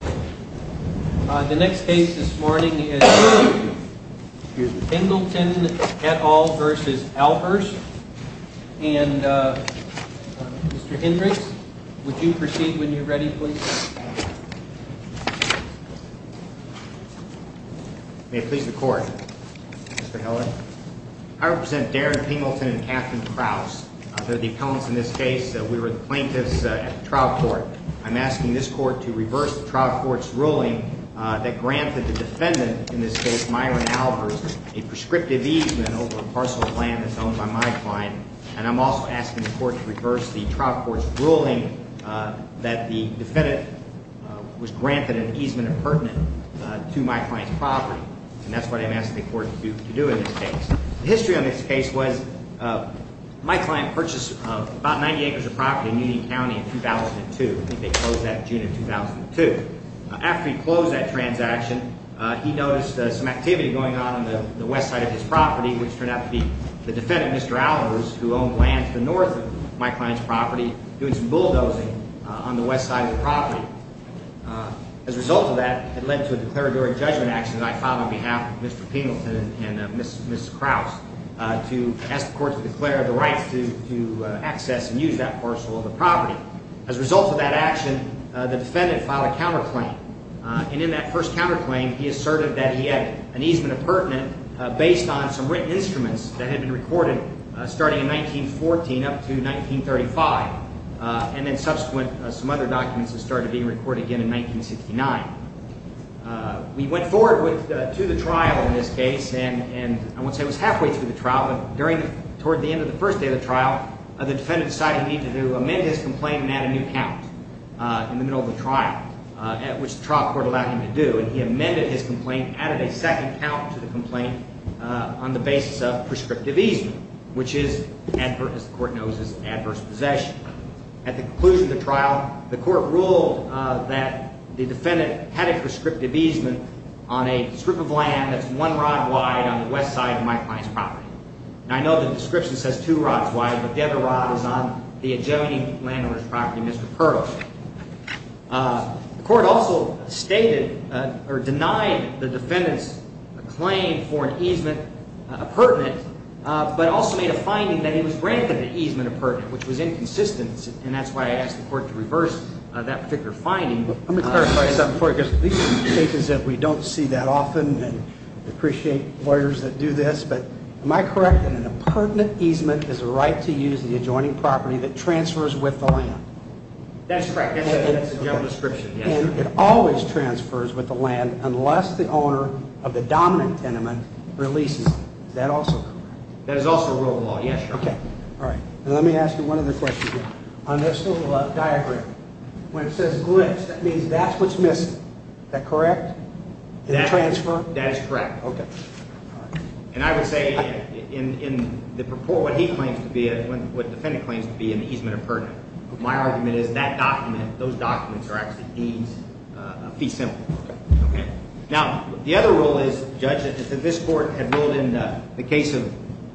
The next case this morning is Pingleton v. Albers And Mr. Hendricks, would you proceed when you're ready please? May it please the court, Mr. Heller. I represent Darren Pingleton and Katherine Krause. They're the appellants in this case. We were the plaintiffs at the trial court. I'm asking this court to reverse the trial court's ruling that granted the defendant in this case, Myron Albers, a prescriptive easement over a parcel of land that's owned by my client. And I'm also asking the court to reverse the trial court's ruling that the defendant was granted an easement appurtenant to my client's property. And that's what I'm asking the court to do in this case. The history on this case was my client purchased about 90 acres of property in Union County in 2002. I think they closed that in June of 2002. After he closed that transaction, he noticed some activity going on on the west side of his property, which turned out to be the defendant, Mr. Albers, who owned land to the north of my client's property, doing some bulldozing on the west side of the property. As a result of that, it led to a declaratory judgment action that I filed on behalf of Mr. Pingleton and Ms. Krause to ask the court to declare the right to access and use that parcel of the property. As a result of that action, the defendant filed a counterclaim. And in that first counterclaim, he asserted that he had an easement appurtenant based on some written instruments that had been recorded starting in 1914 up to 1935, and then subsequent some other documents that started being recorded again in 1969. We went forward to the trial in this case, and I won't say it was halfway through the trial, but toward the end of the first day of the trial, the defendant decided he needed to amend his complaint and add a new count in the middle of the trial, which the trial court allowed him to do. And he amended his complaint, added a second count to the complaint on the basis of prescriptive easement, which is, as the court knows, adverse possession. At the conclusion of the trial, the court ruled that the defendant had a prescriptive easement on a strip of land that's one rod wide on the west side of my client's property. And I know the description says two rods wide, but the other rod is on the adjoining landowner's property, Mr. Perl. The court also stated or denied the defendant's claim for an easement appurtenant, but also made a finding that he was granted an easement appurtenant, which was inconsistent, and that's why I asked the court to reverse that particular finding. Let me clarify something for you, because these are cases that we don't see that often and appreciate lawyers that do this, but am I correct that an appurtenant easement is a right to use the adjoining property that transfers with the land? That is correct. That's the general description, yes. And it always transfers with the land unless the owner of the dominant tenement releases it. Is that also correct? That is also rule of law, yes, Your Honor. Okay. All right. And let me ask you one other question here. On this little diagram, when it says glitch, that means that's what's missing. Is that correct? That is correct. Okay. And I would say in the purport what he claims to be, what the defendant claims to be an easement appurtenant, my argument is that document, those documents are actually fees simple. Okay. Now, the other rule is, Judge, is that this court had ruled in the case of,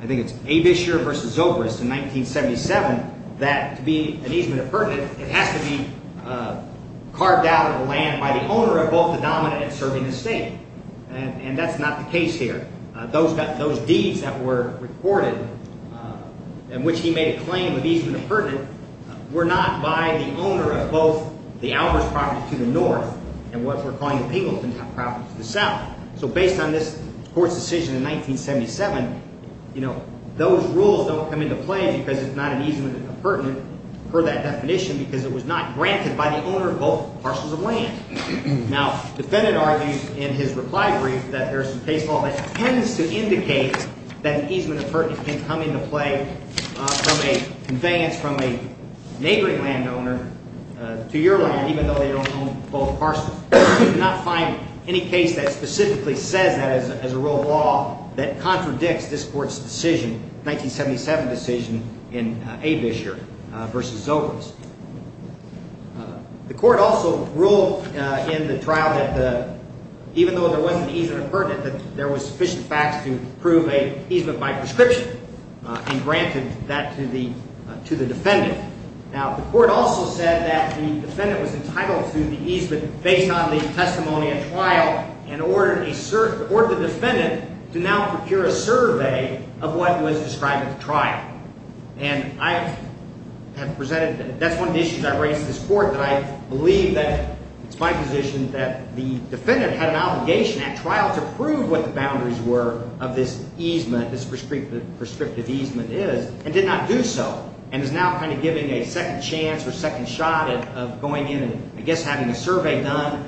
I think it's Abisher v. Zobrist in 1977, that to be an easement appurtenant, it has to be carved out of the land by the owner of both the dominant and serving estate. And that's not the case here. Those deeds that were recorded in which he made a claim of easement appurtenant were not by the owner of both the Alvarez property to the north and what we're calling the Pingleton property to the south. So based on this court's decision in 1977, you know, those rules don't come into play because it's not an easement appurtenant per that definition because it was not granted by the owner of both parcels of land. Now, the defendant argues in his reply brief that there's some case law that tends to indicate that an easement appurtenant can come into play from a conveyance from a neighboring landowner to your land even though they don't own both parcels. You do not find any case that specifically says that as a rule of law that contradicts this court's decision, 1977 decision in Abisher v. Zobrist. The court also ruled in the trial that even though there was an easement appurtenant, that there was sufficient facts to prove an easement by prescription and granted that to the defendant. Now, the court also said that the defendant was entitled to the easement based on the testimony at trial and ordered the defendant to now procure a survey of what was described at the trial. And I have presented – that's one of the issues I raised to this court that I believe that it's my position that the defendant had an obligation at trial to prove what the boundaries were of this easement, this prescriptive easement is, and did not do so. And is now kind of giving a second chance or second shot of going in and, I guess, having a survey done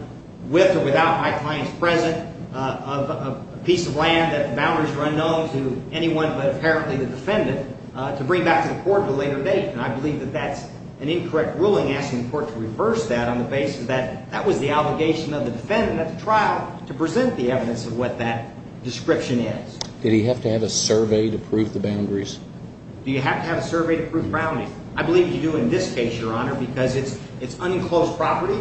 with or without my clients present of a piece of land that the boundaries are unknown to anyone but apparently the defendant to bring back to the court at a later date. And I believe that that's an incorrect ruling asking the court to reverse that on the basis that that was the obligation of the defendant at the trial to present the evidence of what that description is. Did he have to have a survey to prove the boundaries? Do you have to have a survey to prove boundaries? I believe you do in this case, Your Honor, because it's unenclosed property.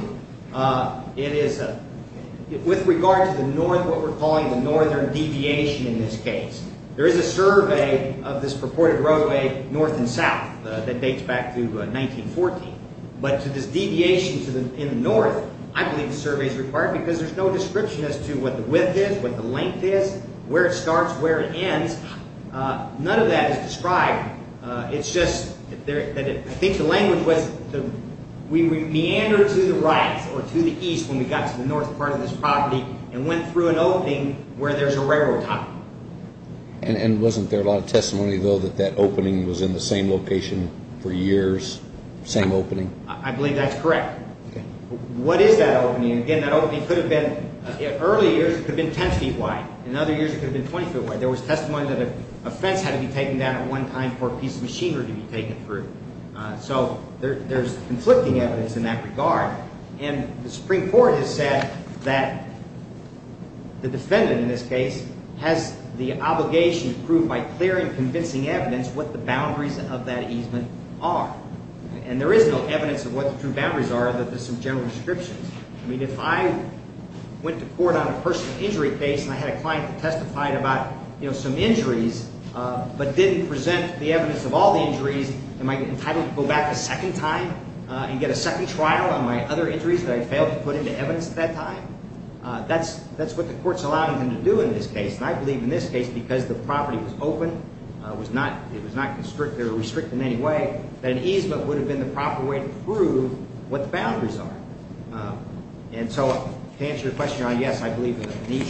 It is – with regard to the north, what we're calling the northern deviation in this case, there is a survey of this purported roadway north and south that dates back to 1914. But to this deviation in the north, I believe the survey is required because there's no description as to what the width is, what the length is, where it starts, where it ends. None of that is described. It's just that I think the language was we meandered to the right or to the east when we got to the north part of this property and went through an opening where there's a railroad top. And wasn't there a lot of testimony, though, that that opening was in the same location for years, same opening? I believe that's correct. What is that opening? And again, that opening could have been – in early years, it could have been 10 feet wide. In other years, it could have been 20 feet wide. There was testimony that a fence had to be taken down at one time for a piece of machinery to be taken through. So there's conflicting evidence in that regard. And the Supreme Court has said that the defendant in this case has the obligation to prove by clear and convincing evidence what the boundaries of that easement are. And there is no evidence of what the true boundaries are, that there's some general descriptions. I mean, if I went to court on a personal injury case and I had a client that testified about some injuries but didn't present the evidence of all the injuries, am I entitled to go back a second time and get a second trial on my other injuries that I failed to put into evidence at that time? That's what the court's allowing them to do in this case. And I believe in this case, because the property was open, it was not restricted in any way, that an easement would have been the proper way to prove what the boundaries are. And so to answer your question, Your Honor, yes, I believe that the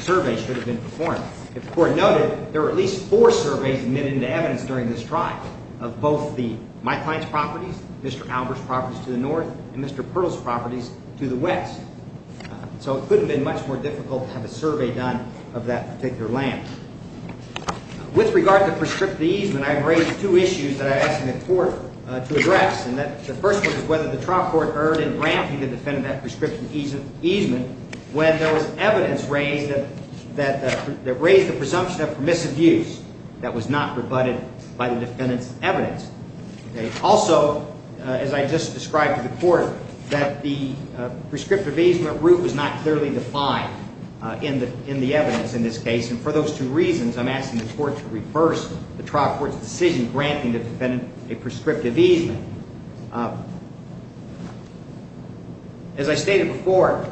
survey should have been performed. If the court noted, there were at least four surveys admitted into evidence during this trial of both my client's properties, Mr. Albert's properties to the north, and Mr. Pearl's properties to the west. So it could have been much more difficult to have a survey done of that particular land. With regard to prescriptive easement, I've raised two issues that I've asked the court to address. And the first one is whether the trial court erred in ramping the defendant at prescriptive easement when there was evidence raised that raised the presumption of permissive use that was not rebutted by the defendant's evidence. Also, as I just described to the court, that the prescriptive easement route was not clearly defined in the evidence in this case. And for those two reasons, I'm asking the court to reverse the trial court's decision granting the defendant a prescriptive easement. As I stated before,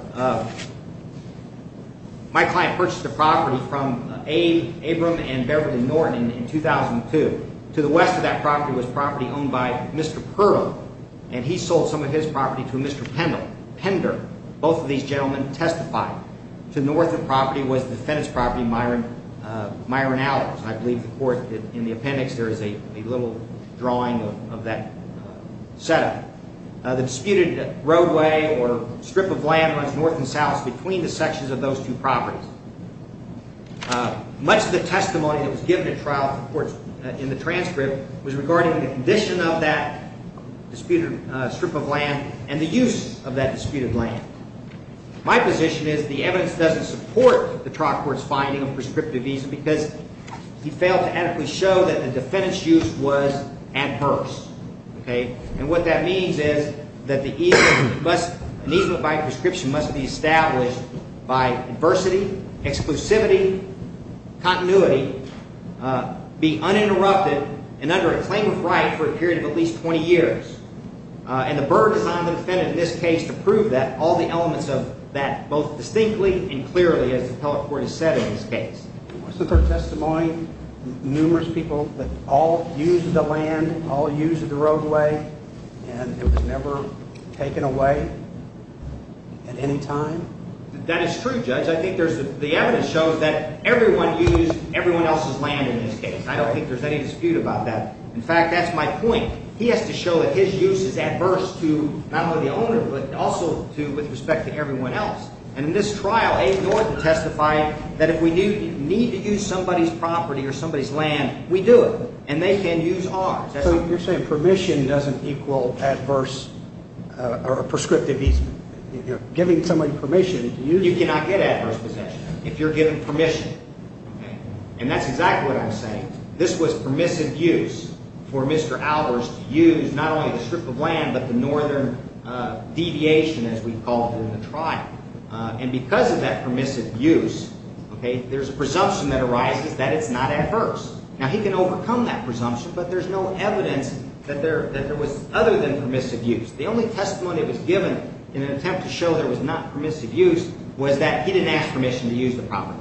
my client purchased a property from Abram and Beverly Norton in 2002. To the west of that property was property owned by Mr. Pearl, and he sold some of his property to a Mr. Pender. Both of these gentlemen testified. To the north of the property was the defendant's property, Myron Allers. I believe the court in the appendix, there is a little drawing of that setup. The disputed roadway or strip of land runs north and south between the sections of those two properties. Much of the testimony that was given at trial in the transcript was regarding the condition of that disputed strip of land and the use of that disputed land. My position is the evidence doesn't support the trial court's finding of prescriptive easement because he failed to adequately show that the defendant's use was adverse. And what that means is that the easement by prescription must be established by adversity, exclusivity, continuity, be uninterrupted, and under a claim of right for a period of at least 20 years. And the Burr designed the defendant in this case to prove that, all the elements of that, both distinctly and clearly, as the appellate court has said in this case. What's the court's testimony? Numerous people that all used the land, all used the roadway, and it was never taken away at any time? That is true, Judge. I think the evidence shows that everyone used everyone else's land in this case. I don't think there's any dispute about that. In fact, that's my point. He has to show that his use is adverse to not only the owner but also with respect to everyone else. And in this trial, A. Norton testified that if we need to use somebody's property or somebody's land, we do it, and they can use ours. So you're saying permission doesn't equal adverse or prescriptive easement. If you're giving somebody permission, you do it. You cannot get adverse possession if you're given permission. And that's exactly what I'm saying. This was permissive use for Mr. Alders to use not only the strip of land but the northern deviation, as we call it in the trial. And because of that permissive use, there's a presumption that arises that it's not adverse. Now, he can overcome that presumption, but there's no evidence that there was other than permissive use. The only testimony that was given in an attempt to show there was not permissive use was that he didn't ask permission to use the property.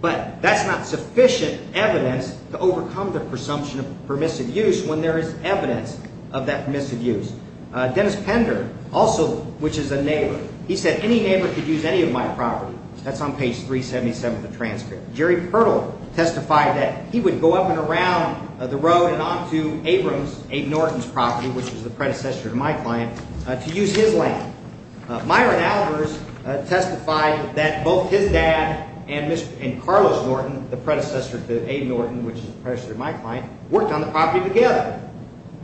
But that's not sufficient evidence to overcome the presumption of permissive use when there is evidence of that permissive use. Dennis Pender also, which is a neighbor, he said any neighbor could use any of my property. That's on page 377 of the transcript. Jerry Pertle testified that he would go up and around the road and on to Abrams, A. Norton's property, which was the predecessor to my client, to use his land. Myron Alders testified that both his dad and Carlos Norton, the predecessor to A. Norton, which is the predecessor to my client, worked on the property together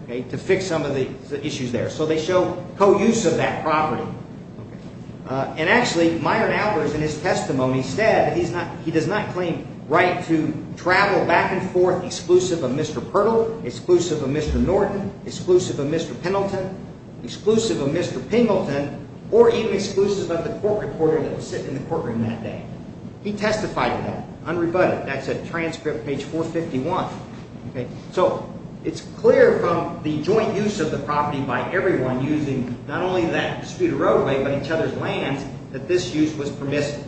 to fix some of the issues there. So they show co-use of that property. And actually, Myron Alders in his testimony said that he does not claim right to travel back and forth exclusive of Mr. Pertle, exclusive of Mr. Norton, exclusive of Mr. Pendleton, exclusive of Mr. Pingleton, or even exclusive of the court reporter that was sitting in the courtroom that day. He testified to that, unrebutted. That's a transcript, page 451. So it's clear from the joint use of the property by everyone using not only that disputed roadway but each other's lands that this use was permissive.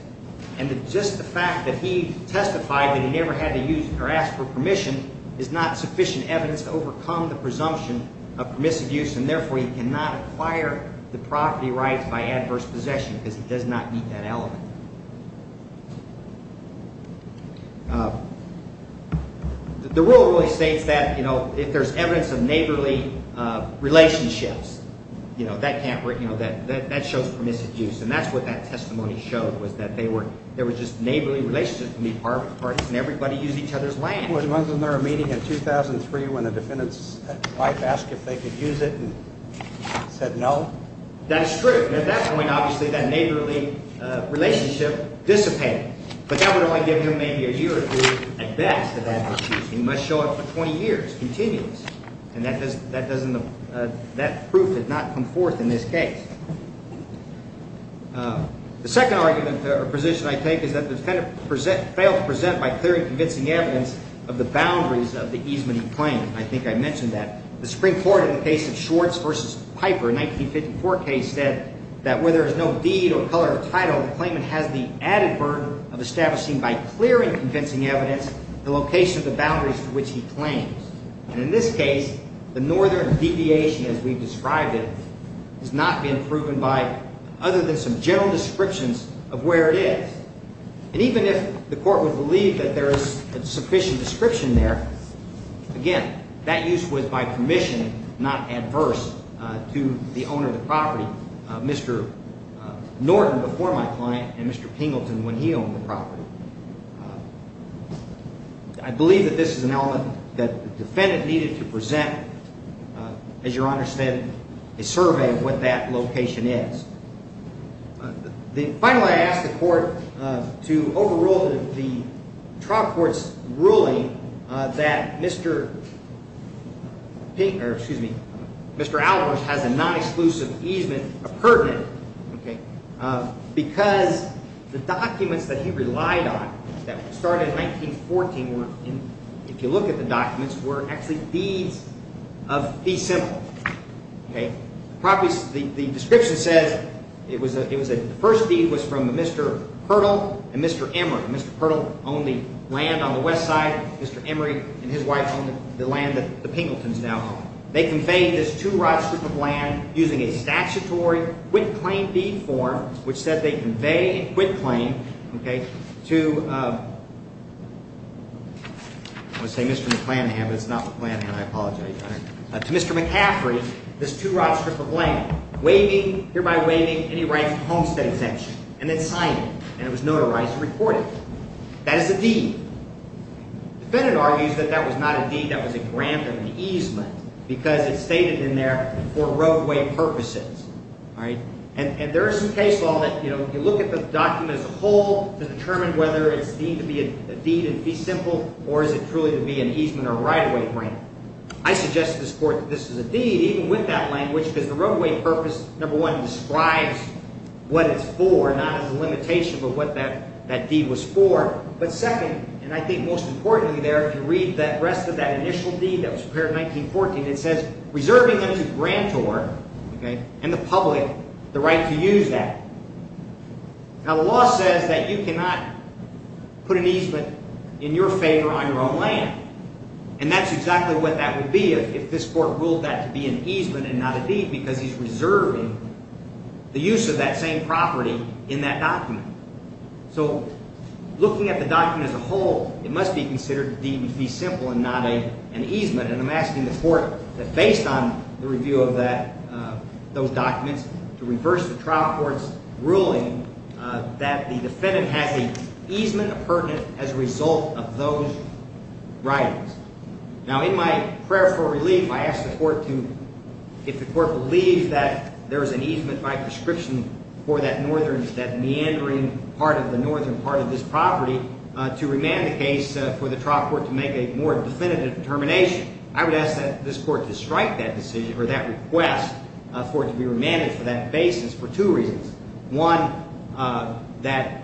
And just the fact that he testified that he never had to use or ask for permission is not sufficient evidence to overcome the presumption of permissive use. And therefore, he cannot acquire the property rights by adverse possession because he does not meet that element. The rule really states that if there's evidence of neighborly relationships, that shows permissive use. And that's what that testimony showed was that there were just neighborly relationships between the parties and everybody used each other's land. Was there a meeting in 2003 when the defendant's wife asked if they could use it and said no? That's true. At that point, obviously, that neighborly relationship dissipated. But that would only give him maybe a year or two, at best, of adverse use. He must show up for 20 years, continuous. And that proof did not come forth in this case. The second argument or position I take is that the defendant failed to present by clear and convincing evidence of the boundaries of the easement he claimed. I think I mentioned that. The Supreme Court, in the case of Schwartz v. Piper, a 1954 case, said that where there is no deed or color or title, the claimant has the added burden of establishing by clear and convincing evidence the location of the boundaries to which he claims. And in this case, the northern deviation, as we've described it, has not been proven by other than some general descriptions of where it is. And even if the court would believe that there is a sufficient description there, again, that use was, by permission, not adverse to the owner of the property, Mr. Norton, before my client, and Mr. Pingleton when he owned the property. I believe that this is an element that the defendant needed to present, as Your Honor said, a survey of what that location is. Finally, I ask the court to overrule the trial court's ruling that Mr. Albers has a non-exclusive easement, a pertinent, because the documents that he relied on that started in 1914, if you look at the documents, were actually deeds of the simple. The description says the first deed was from Mr. Hurdle and Mr. Emery. Mr. Hurdle owned the land on the west side. Mr. Emery and his wife owned the land that the Pingletons now own. They conveyed this two-rod strip of land using a statutory quit-claim deed form, which said they conveyed a quit-claim to Mr. McCaffrey, this two-rod strip of land, hereby waiving any right to homestead exemption. And then signed it, and it was notarized and reported. That is a deed. The defendant argues that that was not a deed, that was a grant of an easement because it's stated in there for roadway purposes. And there is some case law that, you know, you look at the document as a whole to determine whether it's deemed to be a deed in fee simple or is it truly to be an easement or right-of-way grant. I suggest to this court that this is a deed, even with that language, because the roadway purpose, number one, describes what it's for, not as a limitation, but what that deed was for. But second, and I think most importantly there, if you read the rest of that initial deed that was prepared in 1914, it says, reserving unto grantor and the public the right to use that. Now, the law says that you cannot put an easement in your favor on your own land, and that's exactly what that would be if this court ruled that to be an easement and not a deed because he's reserving the use of that same property in that document. So looking at the document as a whole, it must be considered a deed in fee simple and not an easement. And I'm asking the court that based on the review of that, those documents, to reverse the trial court's ruling that the defendant has an easement appurtenant as a result of those writings. Now, in my prayer for relief, I ask the court to, if the court believes that there is an easement by prescription for that northern, that meandering part of the northern part of this property, to remand the case for the trial court to make a more definitive determination. I would ask that this court to strike that decision or that request for it to be remanded for that basis for two reasons. One, that,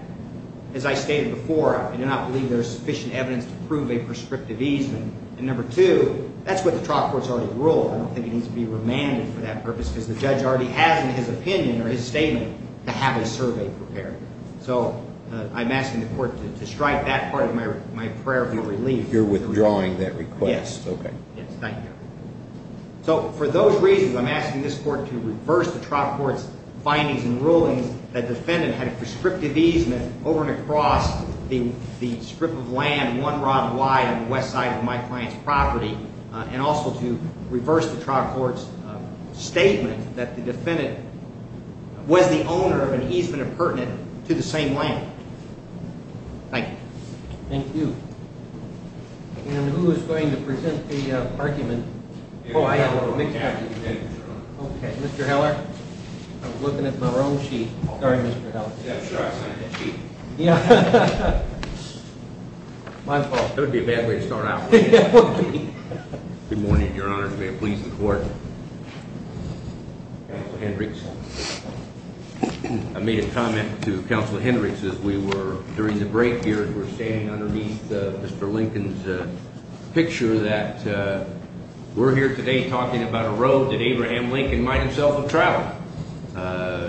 as I stated before, I do not believe there is sufficient evidence to prove a prescriptive easement. And number two, that's what the trial court's already ruled. I don't think it needs to be remanded for that purpose because the judge already has in his opinion or his statement to have a survey prepared. So I'm asking the court to strike that part of my prayer for your relief. You're withdrawing that request. Yes. Okay. Yes, thank you. So for those reasons, I'm asking this court to reverse the trial court's findings and rulings that defendant had a prescriptive easement over and across the strip of land one rod wide on the west side of my client's property and also to reverse the trial court's statement that the defendant was the owner of an easement appurtenant to the same land. Thank you. Thank you. And who is going to present the argument? Oh, I have a mixed opinion. Okay. Mr. Heller? I was looking at my own sheet. Sorry, Mr. Heller. I'm sure I signed that sheet. Yeah. My fault. That would be a bad way to start out. It would be. Good morning, Your Honor. May it please the court. Counsel Hendricks. I made a comment to Counsel Hendricks as we were during the break here as we're standing underneath Mr. Lincoln's picture that we're here today talking about a road that Abraham Lincoln might himself have traveled.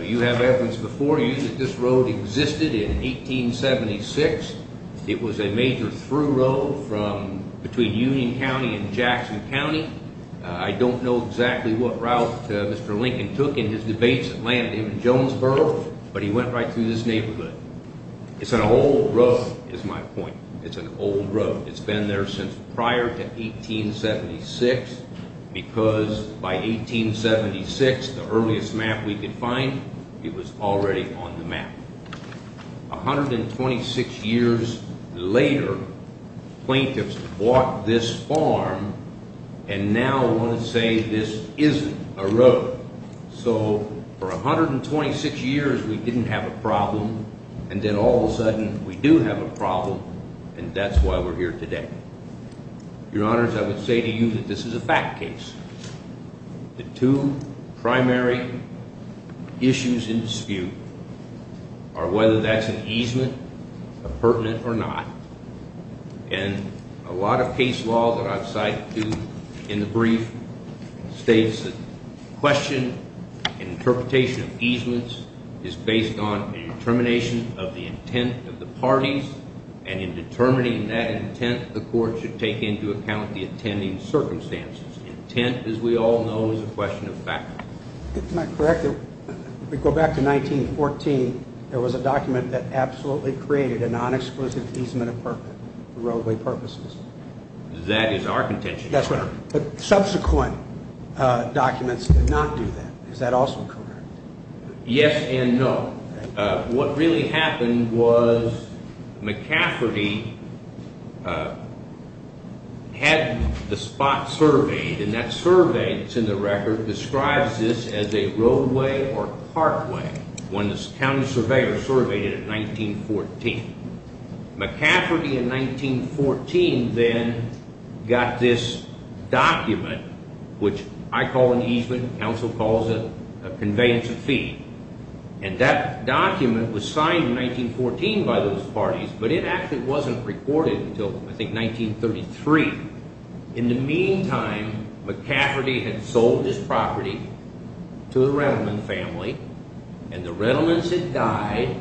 You have evidence before you that this road existed in 1876. It was a major through road from between Union County and Jackson County. I don't know exactly what route Mr. Lincoln took in his debates that landed him in Jonesboro, but he went right through this neighborhood. It's an old road is my point. It's an old road. It's been there since prior to 1876 because by 1876, the earliest map we could find, it was already on the map. 126 years later, plaintiffs bought this farm and now want to say this isn't a road. So for 126 years, we didn't have a problem, and then all of a sudden, we do have a problem, and that's why we're here today. Your Honors, I would say to you that this is a fact case. The two primary issues in dispute are whether that's an easement, a pertinent or not. And a lot of case law that I've cited to you in the brief states that question and interpretation of easements is based on a determination of the intent of the parties. And in determining that intent, the court should take into account the attending circumstances. Intent, as we all know, is a question of fact. If I'm correct, if we go back to 1914, there was a document that absolutely created a non-exclusive easement for roadway purposes. That is our contention. Subsequent documents did not do that. Is that also correct? Yes and no. What really happened was McCafferty had the spot surveyed, and that survey that's in the record describes this as a roadway or parkway. One of the county surveyors surveyed it in 1914. McCafferty in 1914 then got this document, which I call an easement. Council calls it a conveyance of fee. And that document was signed in 1914 by those parties, but it actually wasn't recorded until, I think, 1933. In the meantime, McCafferty had sold his property to the Redelman family, and the Redelmans had died.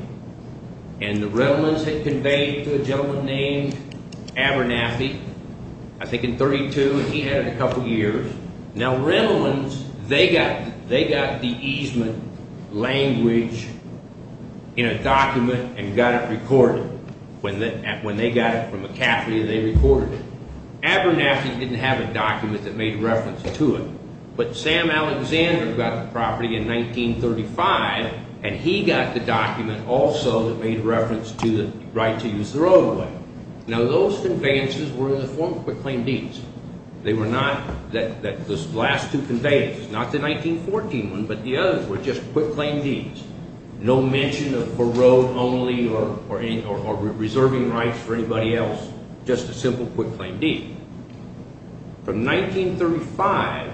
And the Redelmans had conveyed to a gentleman named Abernathy, I think in 1932, and he had it a couple years. Now, Redelmans, they got the easement language in a document and got it recorded. When they got it from McCafferty, they recorded it. Abernathy didn't have a document that made reference to it. But Sam Alexander got the property in 1935, and he got the document also that made reference to the right to use the roadway. Now, those conveyances were in the form of proclaimed deeds. They were not the last two conveyances, not the 1914 one, but the others were just quick claimed deeds. No mention of road only or reserving rights for anybody else, just a simple quick claimed deed. From 1935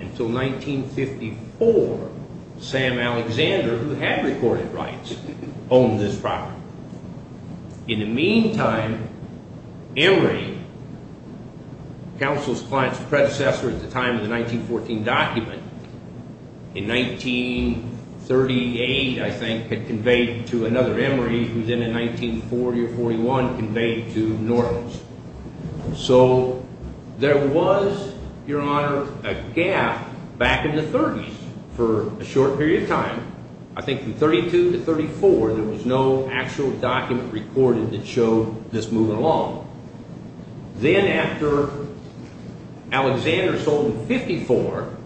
until 1954, Sam Alexander, who had recorded rights, owned this property. In the meantime, Emory, counsel's client's predecessor at the time of the 1914 document, in 1938, I think, had conveyed to another. Emory, who was in in 1940 or 41, conveyed to Normans. So there was, Your Honor, a gap back in the 30s for a short period of time. I think from 1932 to 1934, there was no actual document recorded that showed this moving along. Then after Alexander sold it in 1954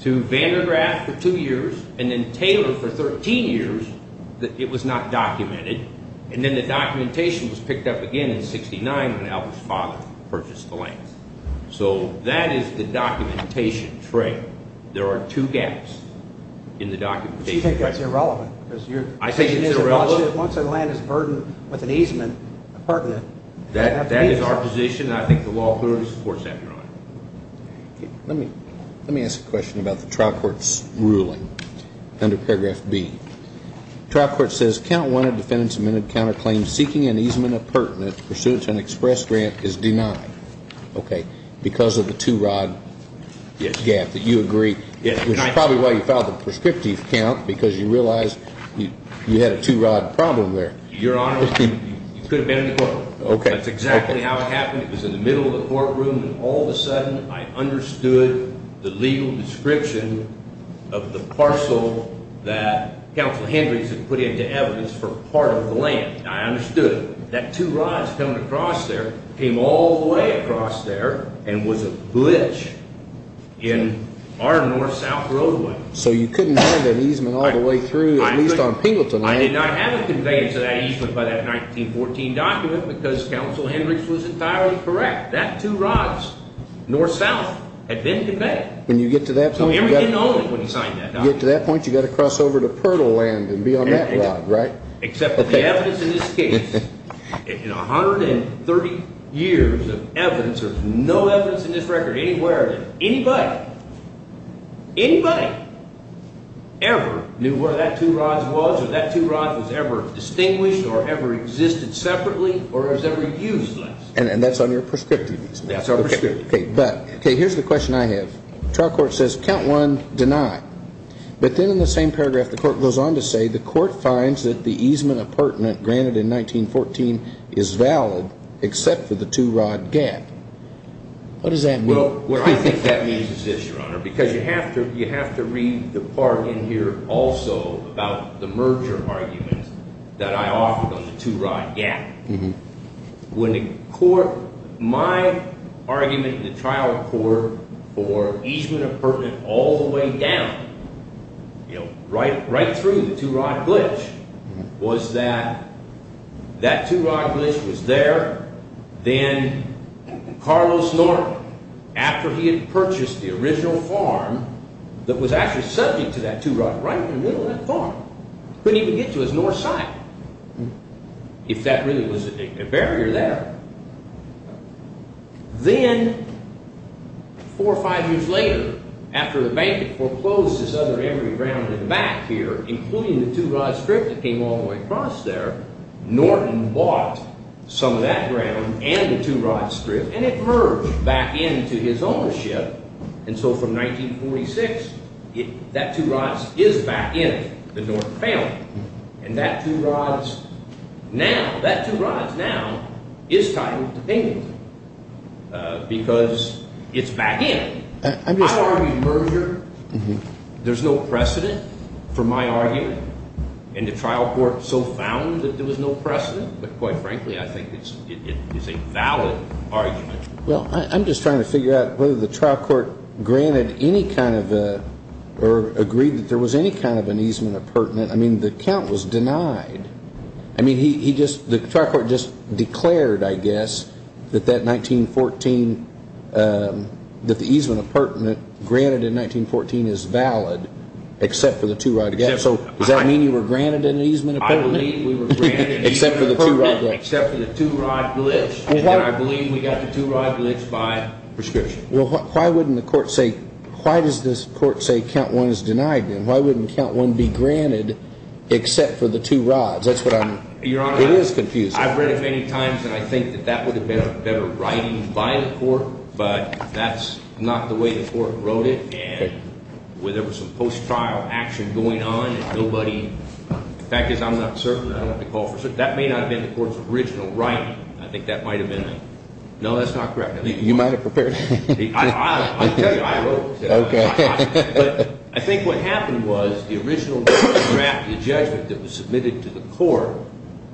to Vandergraaf for two years and then Taylor for 13 years, it was not documented. And then the documentation was picked up again in 1969 when Albert's father purchased the land. So that is the documentation trail. There are two gaps in the documentation. You think that's irrelevant? I think it's irrelevant. Once a land is burdened with an easement, a pertinent. That is our position. I think the law clearly supports that, Your Honor. Let me ask a question about the trial court's ruling under paragraph B. Trial court says count one of defendant's amended counterclaims seeking an easement of pertinent pursuant to an express grant is denied. Okay. Because of the two-rod gap that you agree, which is probably why you filed the prescriptive count, because you realized you had a two-rod problem there. Your Honor, you could have been in the courtroom. That's exactly how it happened. It was in the middle of the courtroom, and all of a sudden, I understood the legal description of the parcel that Counsel Hendricks had put into evidence for part of the land. I understood it. That two rods coming across there came all the way across there and was a glitch in our north-south roadway. So you couldn't have an easement all the way through, at least on Pingleton Land? I did not have it conveyed to that easement by that 1914 document because Counsel Hendricks was entirely correct. That two rods, north-south, had been conveyed. When you get to that point, you got to cross over to Pirtle Land and be on that rod, right? Except that the evidence in this case, in 130 years of evidence, there's no evidence in this record anywhere that anybody, anybody, ever knew where that two rods was or that two rods was ever distinguished or ever existed separately or was ever used. And that's on your prescriptive? That's our prescriptive. Okay, here's the question I have. Trial court says, count one, deny. But then in the same paragraph, the court goes on to say, the court finds that the easement appurtenant granted in 1914 is valid except for the two rod gap. What does that mean? Well, what I think that means is this, Your Honor, because you have to read the part in here also about the merger argument that I offered on the two rod gap. When the court, my argument in the trial court for easement appurtenant all the way down, right through the two rod glitch, was that that two rod glitch was there. Then Carlos Norton, after he had purchased the original farm that was actually subject to that two rod right in the middle of that farm, couldn't even get to his north side, if that really was a barrier there. Then four or five years later, after the bank had foreclosed this other emery ground in the back here, including the two rod strip that came all the way across there, Norton bought some of that ground and the two rod strip and it merged back into his ownership. And so from 1946, that two rod is back in the Norton family. And that two rod is now entitled to payment because it's back in. I argued merger. There's no precedent for my argument. And the trial court so found that there was no precedent. But quite frankly, I think it's a valid argument. Well, I'm just trying to figure out whether the trial court granted any kind of or agreed that there was any kind of an easement appurtenant. I mean, the count was denied. I mean, the trial court just declared, I guess, that the easement appurtenant granted in 1914 is valid, except for the two rod. So does that mean you were granted an easement appurtenant? I believe we were granted an easement appurtenant, except for the two rod glitch. And I believe we got the two rod glitch by prescription. Well, why wouldn't the court say, why does this court say count one is denied? And why wouldn't count one be granted, except for the two rods? That's what I'm, it is confusing. Your Honor, I've read it many times and I think that that would have been a better writing by the court. But that's not the way the court wrote it. And there was some post-trial action going on and nobody, the fact is I'm not certain. That may not have been the court's original writing. I think that might have been. No, that's not correct. You might have prepared it. I'll tell you, I wrote it. Okay. But I think what happened was the original draft, the judgment that was submitted to the court,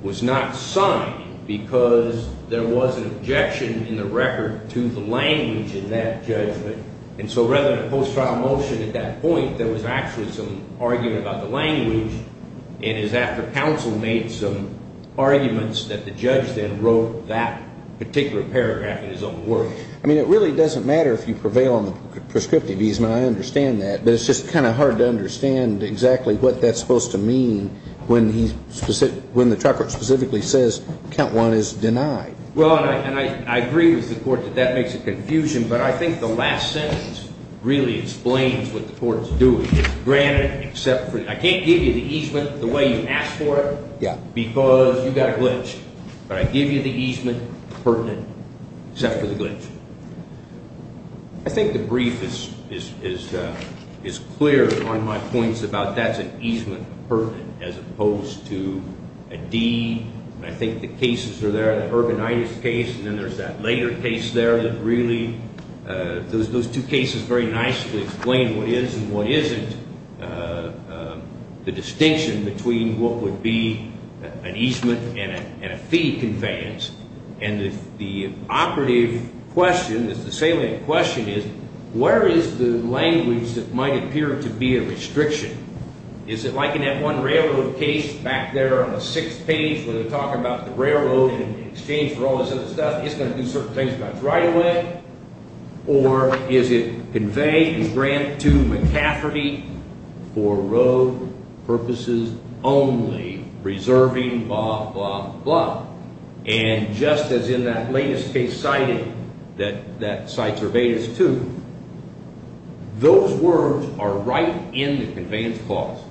was not signed because there was an objection in the record to the language in that judgment. And so rather than a post-trial motion at that point, there was actually some argument about the language. And it was after counsel made some arguments that the judge then wrote that particular paragraph in his own word. I mean, it really doesn't matter if you prevail on the prescriptive easement. I understand that. But it's just kind of hard to understand exactly what that's supposed to mean when the trucker specifically says count one is denied. Well, and I agree with the court that that makes it confusion. But I think the last sentence really explains what the court is doing. I can't give you the easement the way you asked for it because you got a glitch. But I give you the easement pertinent except for the glitch. I think the brief is clear on my points about that's an easement pertinent as opposed to a D. I think the cases are there. And then there's that later case there that really those two cases very nicely explain what is and what isn't the distinction between what would be an easement and a fee conveyance. And the operative question is the salient question is where is the language that might appear to be a restriction? Is it like in that one railroad case back there on the sixth page where they're talking about the railroad in exchange for all this other stuff? It's going to do certain things about its right-of-way. Or is it conveyance grant to McCafferty for road purposes only, preserving blah, blah, blah. And just as in that latest case cited, that Cite Surveillance 2, those words are right in the conveyance clause.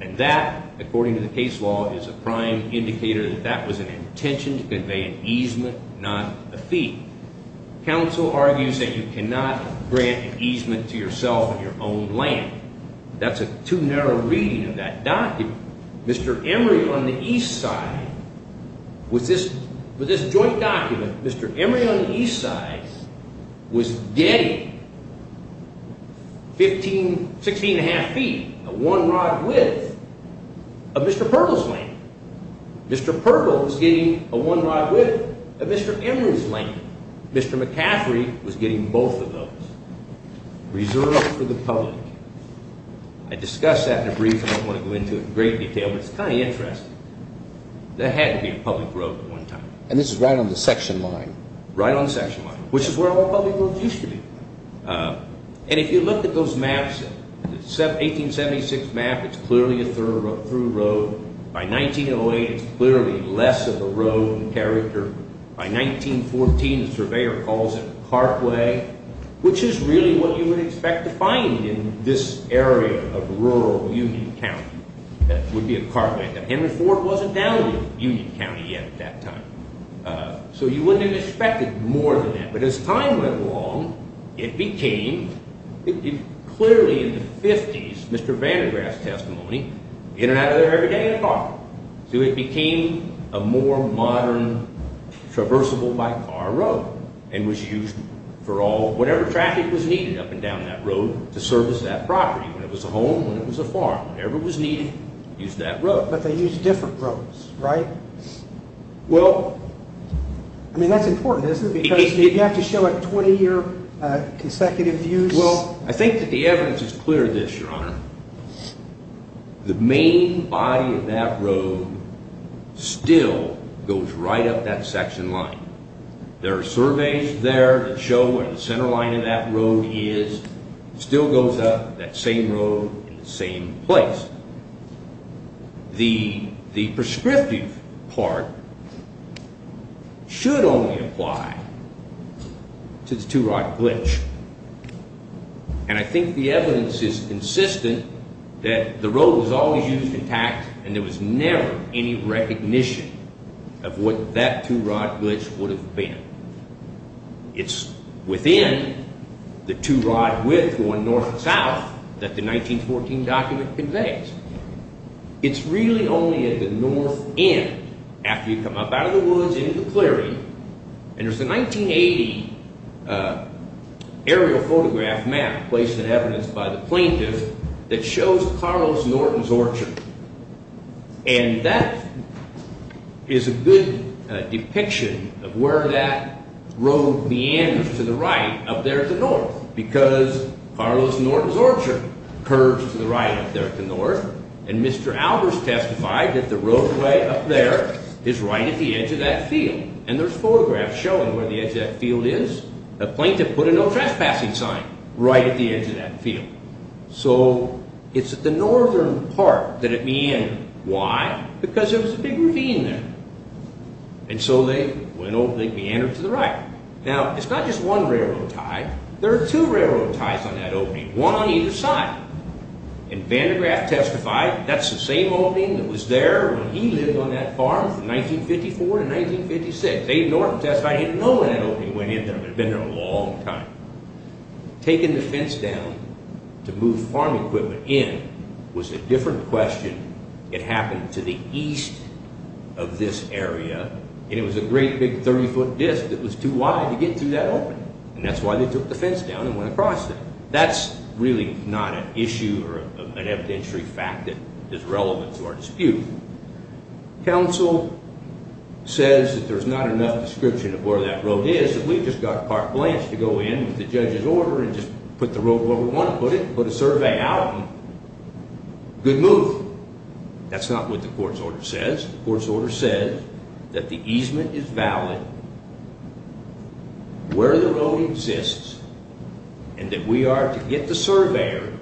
And that, according to the case law, is a prime indicator that that was an intention to convey an easement, not a fee. Counsel argues that you cannot grant an easement to yourself in your own land. That's a too narrow reading of that document. Mr. Emery on the east side, with this joint document, Mr. Emery on the east side was getting 15, 16 1⁄2 feet, a one-rod width of Mr. Purkle's land. Mr. Purkle was getting a one-rod width of Mr. Emery's land. Mr. McCafferty was getting both of those reserved for the public. I discuss that in a brief. I don't want to go into it in great detail, but it's kind of interesting. There had to be a public road at one time. And this is right on the section line. Right on the section line, which is where all public roads used to be. And if you look at those maps, the 1876 map, it's clearly a thorough road. By 1908, it's clearly less of a road in character. By 1914, the surveyor calls it a cartway, which is really what you would expect to find in this area of rural Union County. That would be a cartway. Henry Ford wasn't down in Union County yet at that time. So you wouldn't have expected more than that. But as time went along, it became, clearly in the 50s, Mr. Van de Graaff's testimony, in and out of there every day in a car. So it became a more modern, traversable-by-car road. And was used for all, whatever traffic was needed up and down that road to service that property. When it was a home, when it was a farm, whatever was needed, used that road. But they used different roads, right? Well... I mean, that's important, isn't it? Because did you have to show a 20-year consecutive use? Well, I think that the evidence is clear of this, Your Honor. The main body of that road still goes right up that section line. There are surveys there that show where the center line of that road is. It still goes up that same road in the same place. The prescriptive part should only apply to the Two-Rod Glitch. And I think the evidence is consistent that the road was always used intact. And there was never any recognition of what that Two-Rod Glitch would have been. It's within the two-rod width going north and south that the 1914 document conveys. It's really only at the north end, after you come up out of the woods into the prairie. And there's a 1980 aerial photograph map placed in evidence by the plaintiff that shows Carlos Norton's Orchard. And that is a good depiction of where that road meanders to the right up there to the north. Because Carlos Norton's Orchard curves to the right up there to the north. And Mr. Albers testified that the roadway up there is right at the edge of that field. And there's photographs showing where the edge of that field is. The plaintiff put a no trespassing sign right at the edge of that field. So it's at the northern part that it meandered. Why? Because there was a big ravine there. And so they meandered to the right. Now, it's not just one railroad tie. There are two railroad ties on that opening, one on either side. And Van de Graaff testified that's the same opening that was there when he lived on that farm from 1954 to 1956. Dave Norton testified he didn't know when that opening went in there. It had been there a long time. Taking the fence down to move farm equipment in was a different question. It happened to the east of this area. And it was a great big 30-foot disk that was too wide to get through that opening. And that's why they took the fence down and went across it. That's really not an issue or an evidentiary fact that is relevant to our dispute. Council says that there's not enough description of where that road is, that we've just got Park Blanche to go in with the judge's order and just put the road where we want to put it, put a survey out, and good move. That's not what the court's order says. The court's order says that the easement is valid where the road exists and that we are to get the surveyor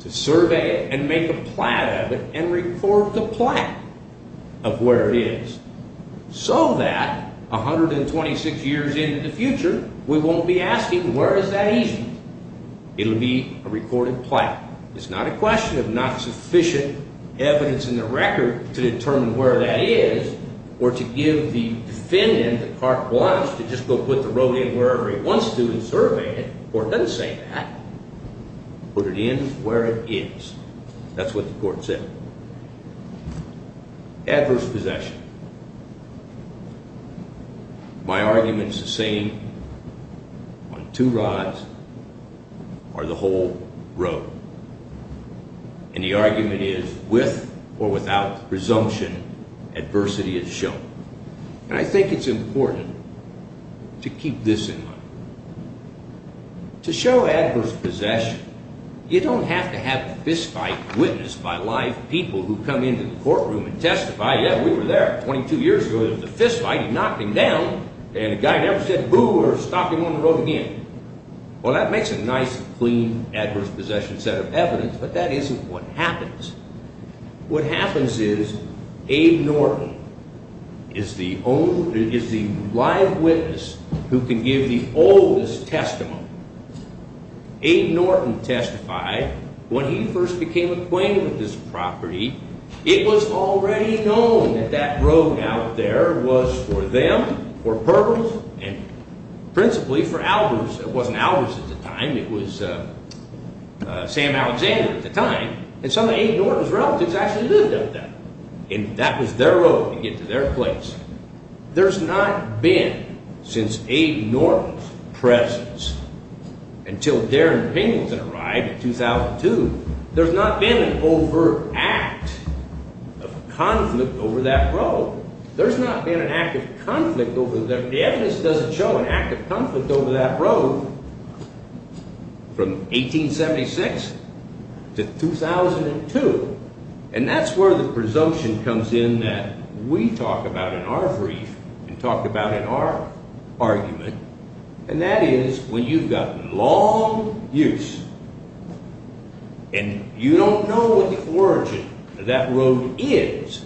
to survey it and make a plat of it and record the plat of where it is, so that 126 years into the future we won't be asking where is that easement. It will be a recorded plat. It's not a question of not sufficient evidence in the record to determine where that is or to give the defendant, Park Blanche, to just go put the road in wherever he wants to and survey it. The court doesn't say that. Put it in where it is. That's what the court said. Adverse possession. My argument is the same on two rides or the whole road. And the argument is with or without presumption, adversity is shown. And I think it's important to keep this in mind. To show adverse possession, you don't have to have a fist fight witnessed by live people who come into the courtroom and testify, yeah, we were there 22 years ago, there was a fist fight, he knocked him down, and a guy never said boo or stopped him on the road again. Well, that makes a nice, clean adverse possession set of evidence, but that isn't what happens. What happens is Abe Norton is the live witness who can give the oldest testimony. Abe Norton testified when he first became acquainted with this property, it was already known that that road out there was for them, for Purvis, and principally for Albers. It wasn't Albers at the time, it was Sam Alexander at the time. And some of Abe Norton's relatives actually lived up there. And that was their road to get to their place. There's not been, since Abe Norton's presence, until Darren Pingleton arrived in 2002, there's not been an over-act of conflict over that road. There's not been an act of conflict over there. The evidence doesn't show an act of conflict over that road from 1876 to 2002. And that's where the presumption comes in that we talk about in our brief and talk about in our argument, and that is when you've got long use and you don't know what the origin of that road is,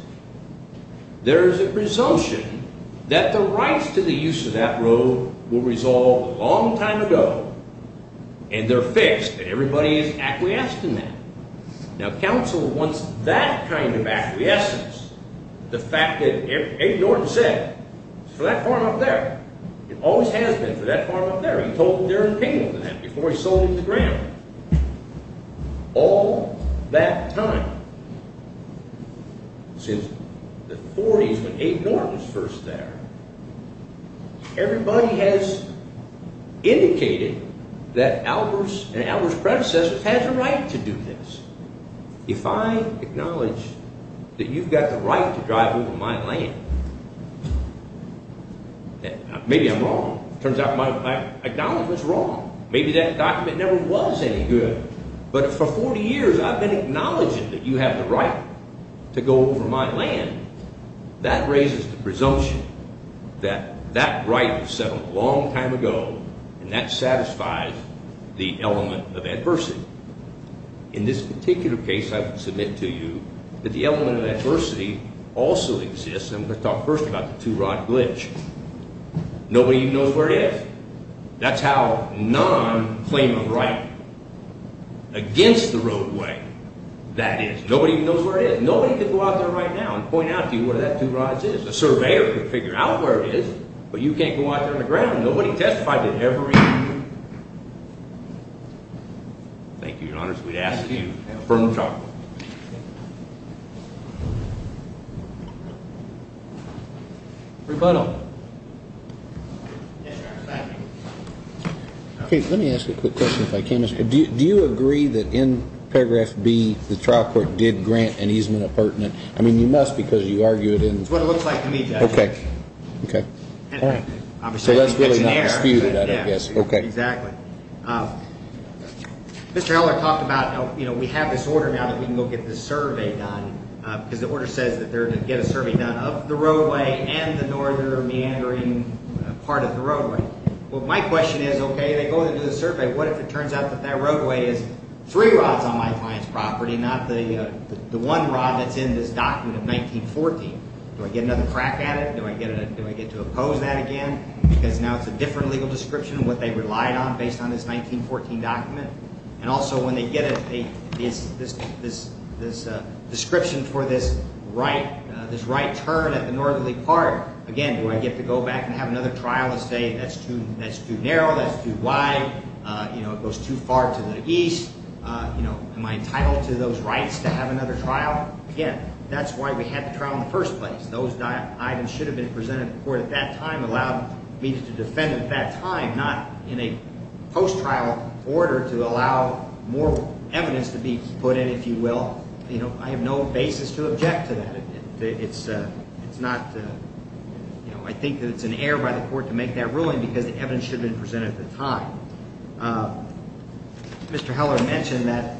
there's a presumption that the rights to the use of that road were resolved a long time ago and they're fixed and everybody is acquiesced in that. Now, counsel wants that kind of acquiescence, the fact that Abe Norton said, for that farm up there, it always has been for that farm up there. He told Darren Pingleton that before he sold it to Graham. All that time, since the 40s when Abe Norton was first there, everybody has indicated that Albers and Albers' predecessors had the right to do this. If I acknowledge that you've got the right to drive over my land, maybe I'm wrong. It turns out I acknowledge what's wrong. Maybe that document never was any good, but for 40 years I've been acknowledging that you have the right to go over my land. That raises the presumption that that right was settled a long time ago and that satisfies the element of adversity. In this particular case, I would submit to you that the element of adversity also exists. I'm going to talk first about the two-rod glitch. Nobody knows where it is. That's how non-claim of right against the roadway that is. Nobody knows where it is. Nobody could go out there right now and point out to you where that two rods is. A surveyor could figure out where it is, but you can't go out there on the ground. Thank you, Your Honor. We'd ask that you have a further talk. Rebuttal. Let me ask a quick question if I can. Do you agree that in paragraph B the trial court did grant an easement appurtenant? I mean you must because you argued in It's what it looks like to me, Judge. Okay. So that's really not disputed, I guess. Exactly. Mr. Heller talked about we have this order now that we can go get this survey done because the order says that they're going to get a survey done of the roadway and the northern meandering part of the roadway. My question is, okay, they go into the survey. What if it turns out that that roadway is three rods on my client's property, not the one rod that's in this document of 1914? Do I get another crack at it? Do I get to oppose that again? Because now it's a different legal description of what they relied on based on this 1914 document. And also when they get this description for this right turn at the northerly part, again, do I get to go back and have another trial and say that's too narrow, that's too wide, it goes too far to the east, am I entitled to those rights to have another trial? Again, that's why we had the trial in the first place. Those items should have been presented to court at that time, allowed me to defend at that time, not in a post-trial order to allow more evidence to be put in, if you will. I have no basis to object to that. It's not, you know, I think that it's an error by the court to make that ruling because the evidence should have been presented at the time. Mr. Heller mentioned that,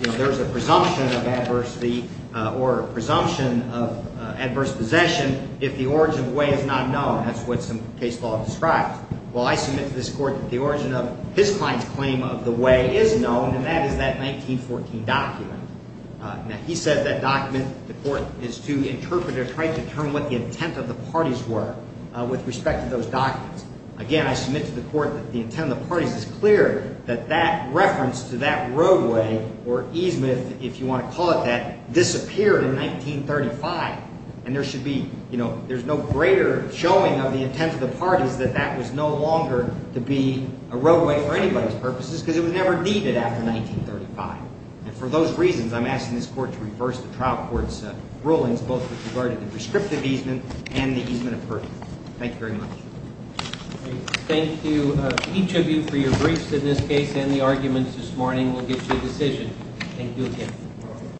you know, there's a presumption of adversity or a presumption of adverse possession if the origin of the way is not known. That's what some case law describes. Well, I submit to this court that the origin of his client's claim of the way is known, and that is that 1914 document. Now, he said that document, the court is to interpret or try to determine what the intent of the parties were with respect to those documents. Again, I submit to the court that the intent of the parties is clear, that that reference to that roadway or easement, if you want to call it that, disappeared in 1935. And there should be, you know, there's no greater showing of the intent of the parties that that was no longer to be a roadway for anybody's purposes because it was never needed after 1935. And for those reasons, I'm asking this court to reverse the trial court's rulings, both with regard to the prescriptive easement and the easement of purpose. Thank you very much. Thank you, each of you, for your briefs in this case and the arguments this morning will get you a decision. Thank you again.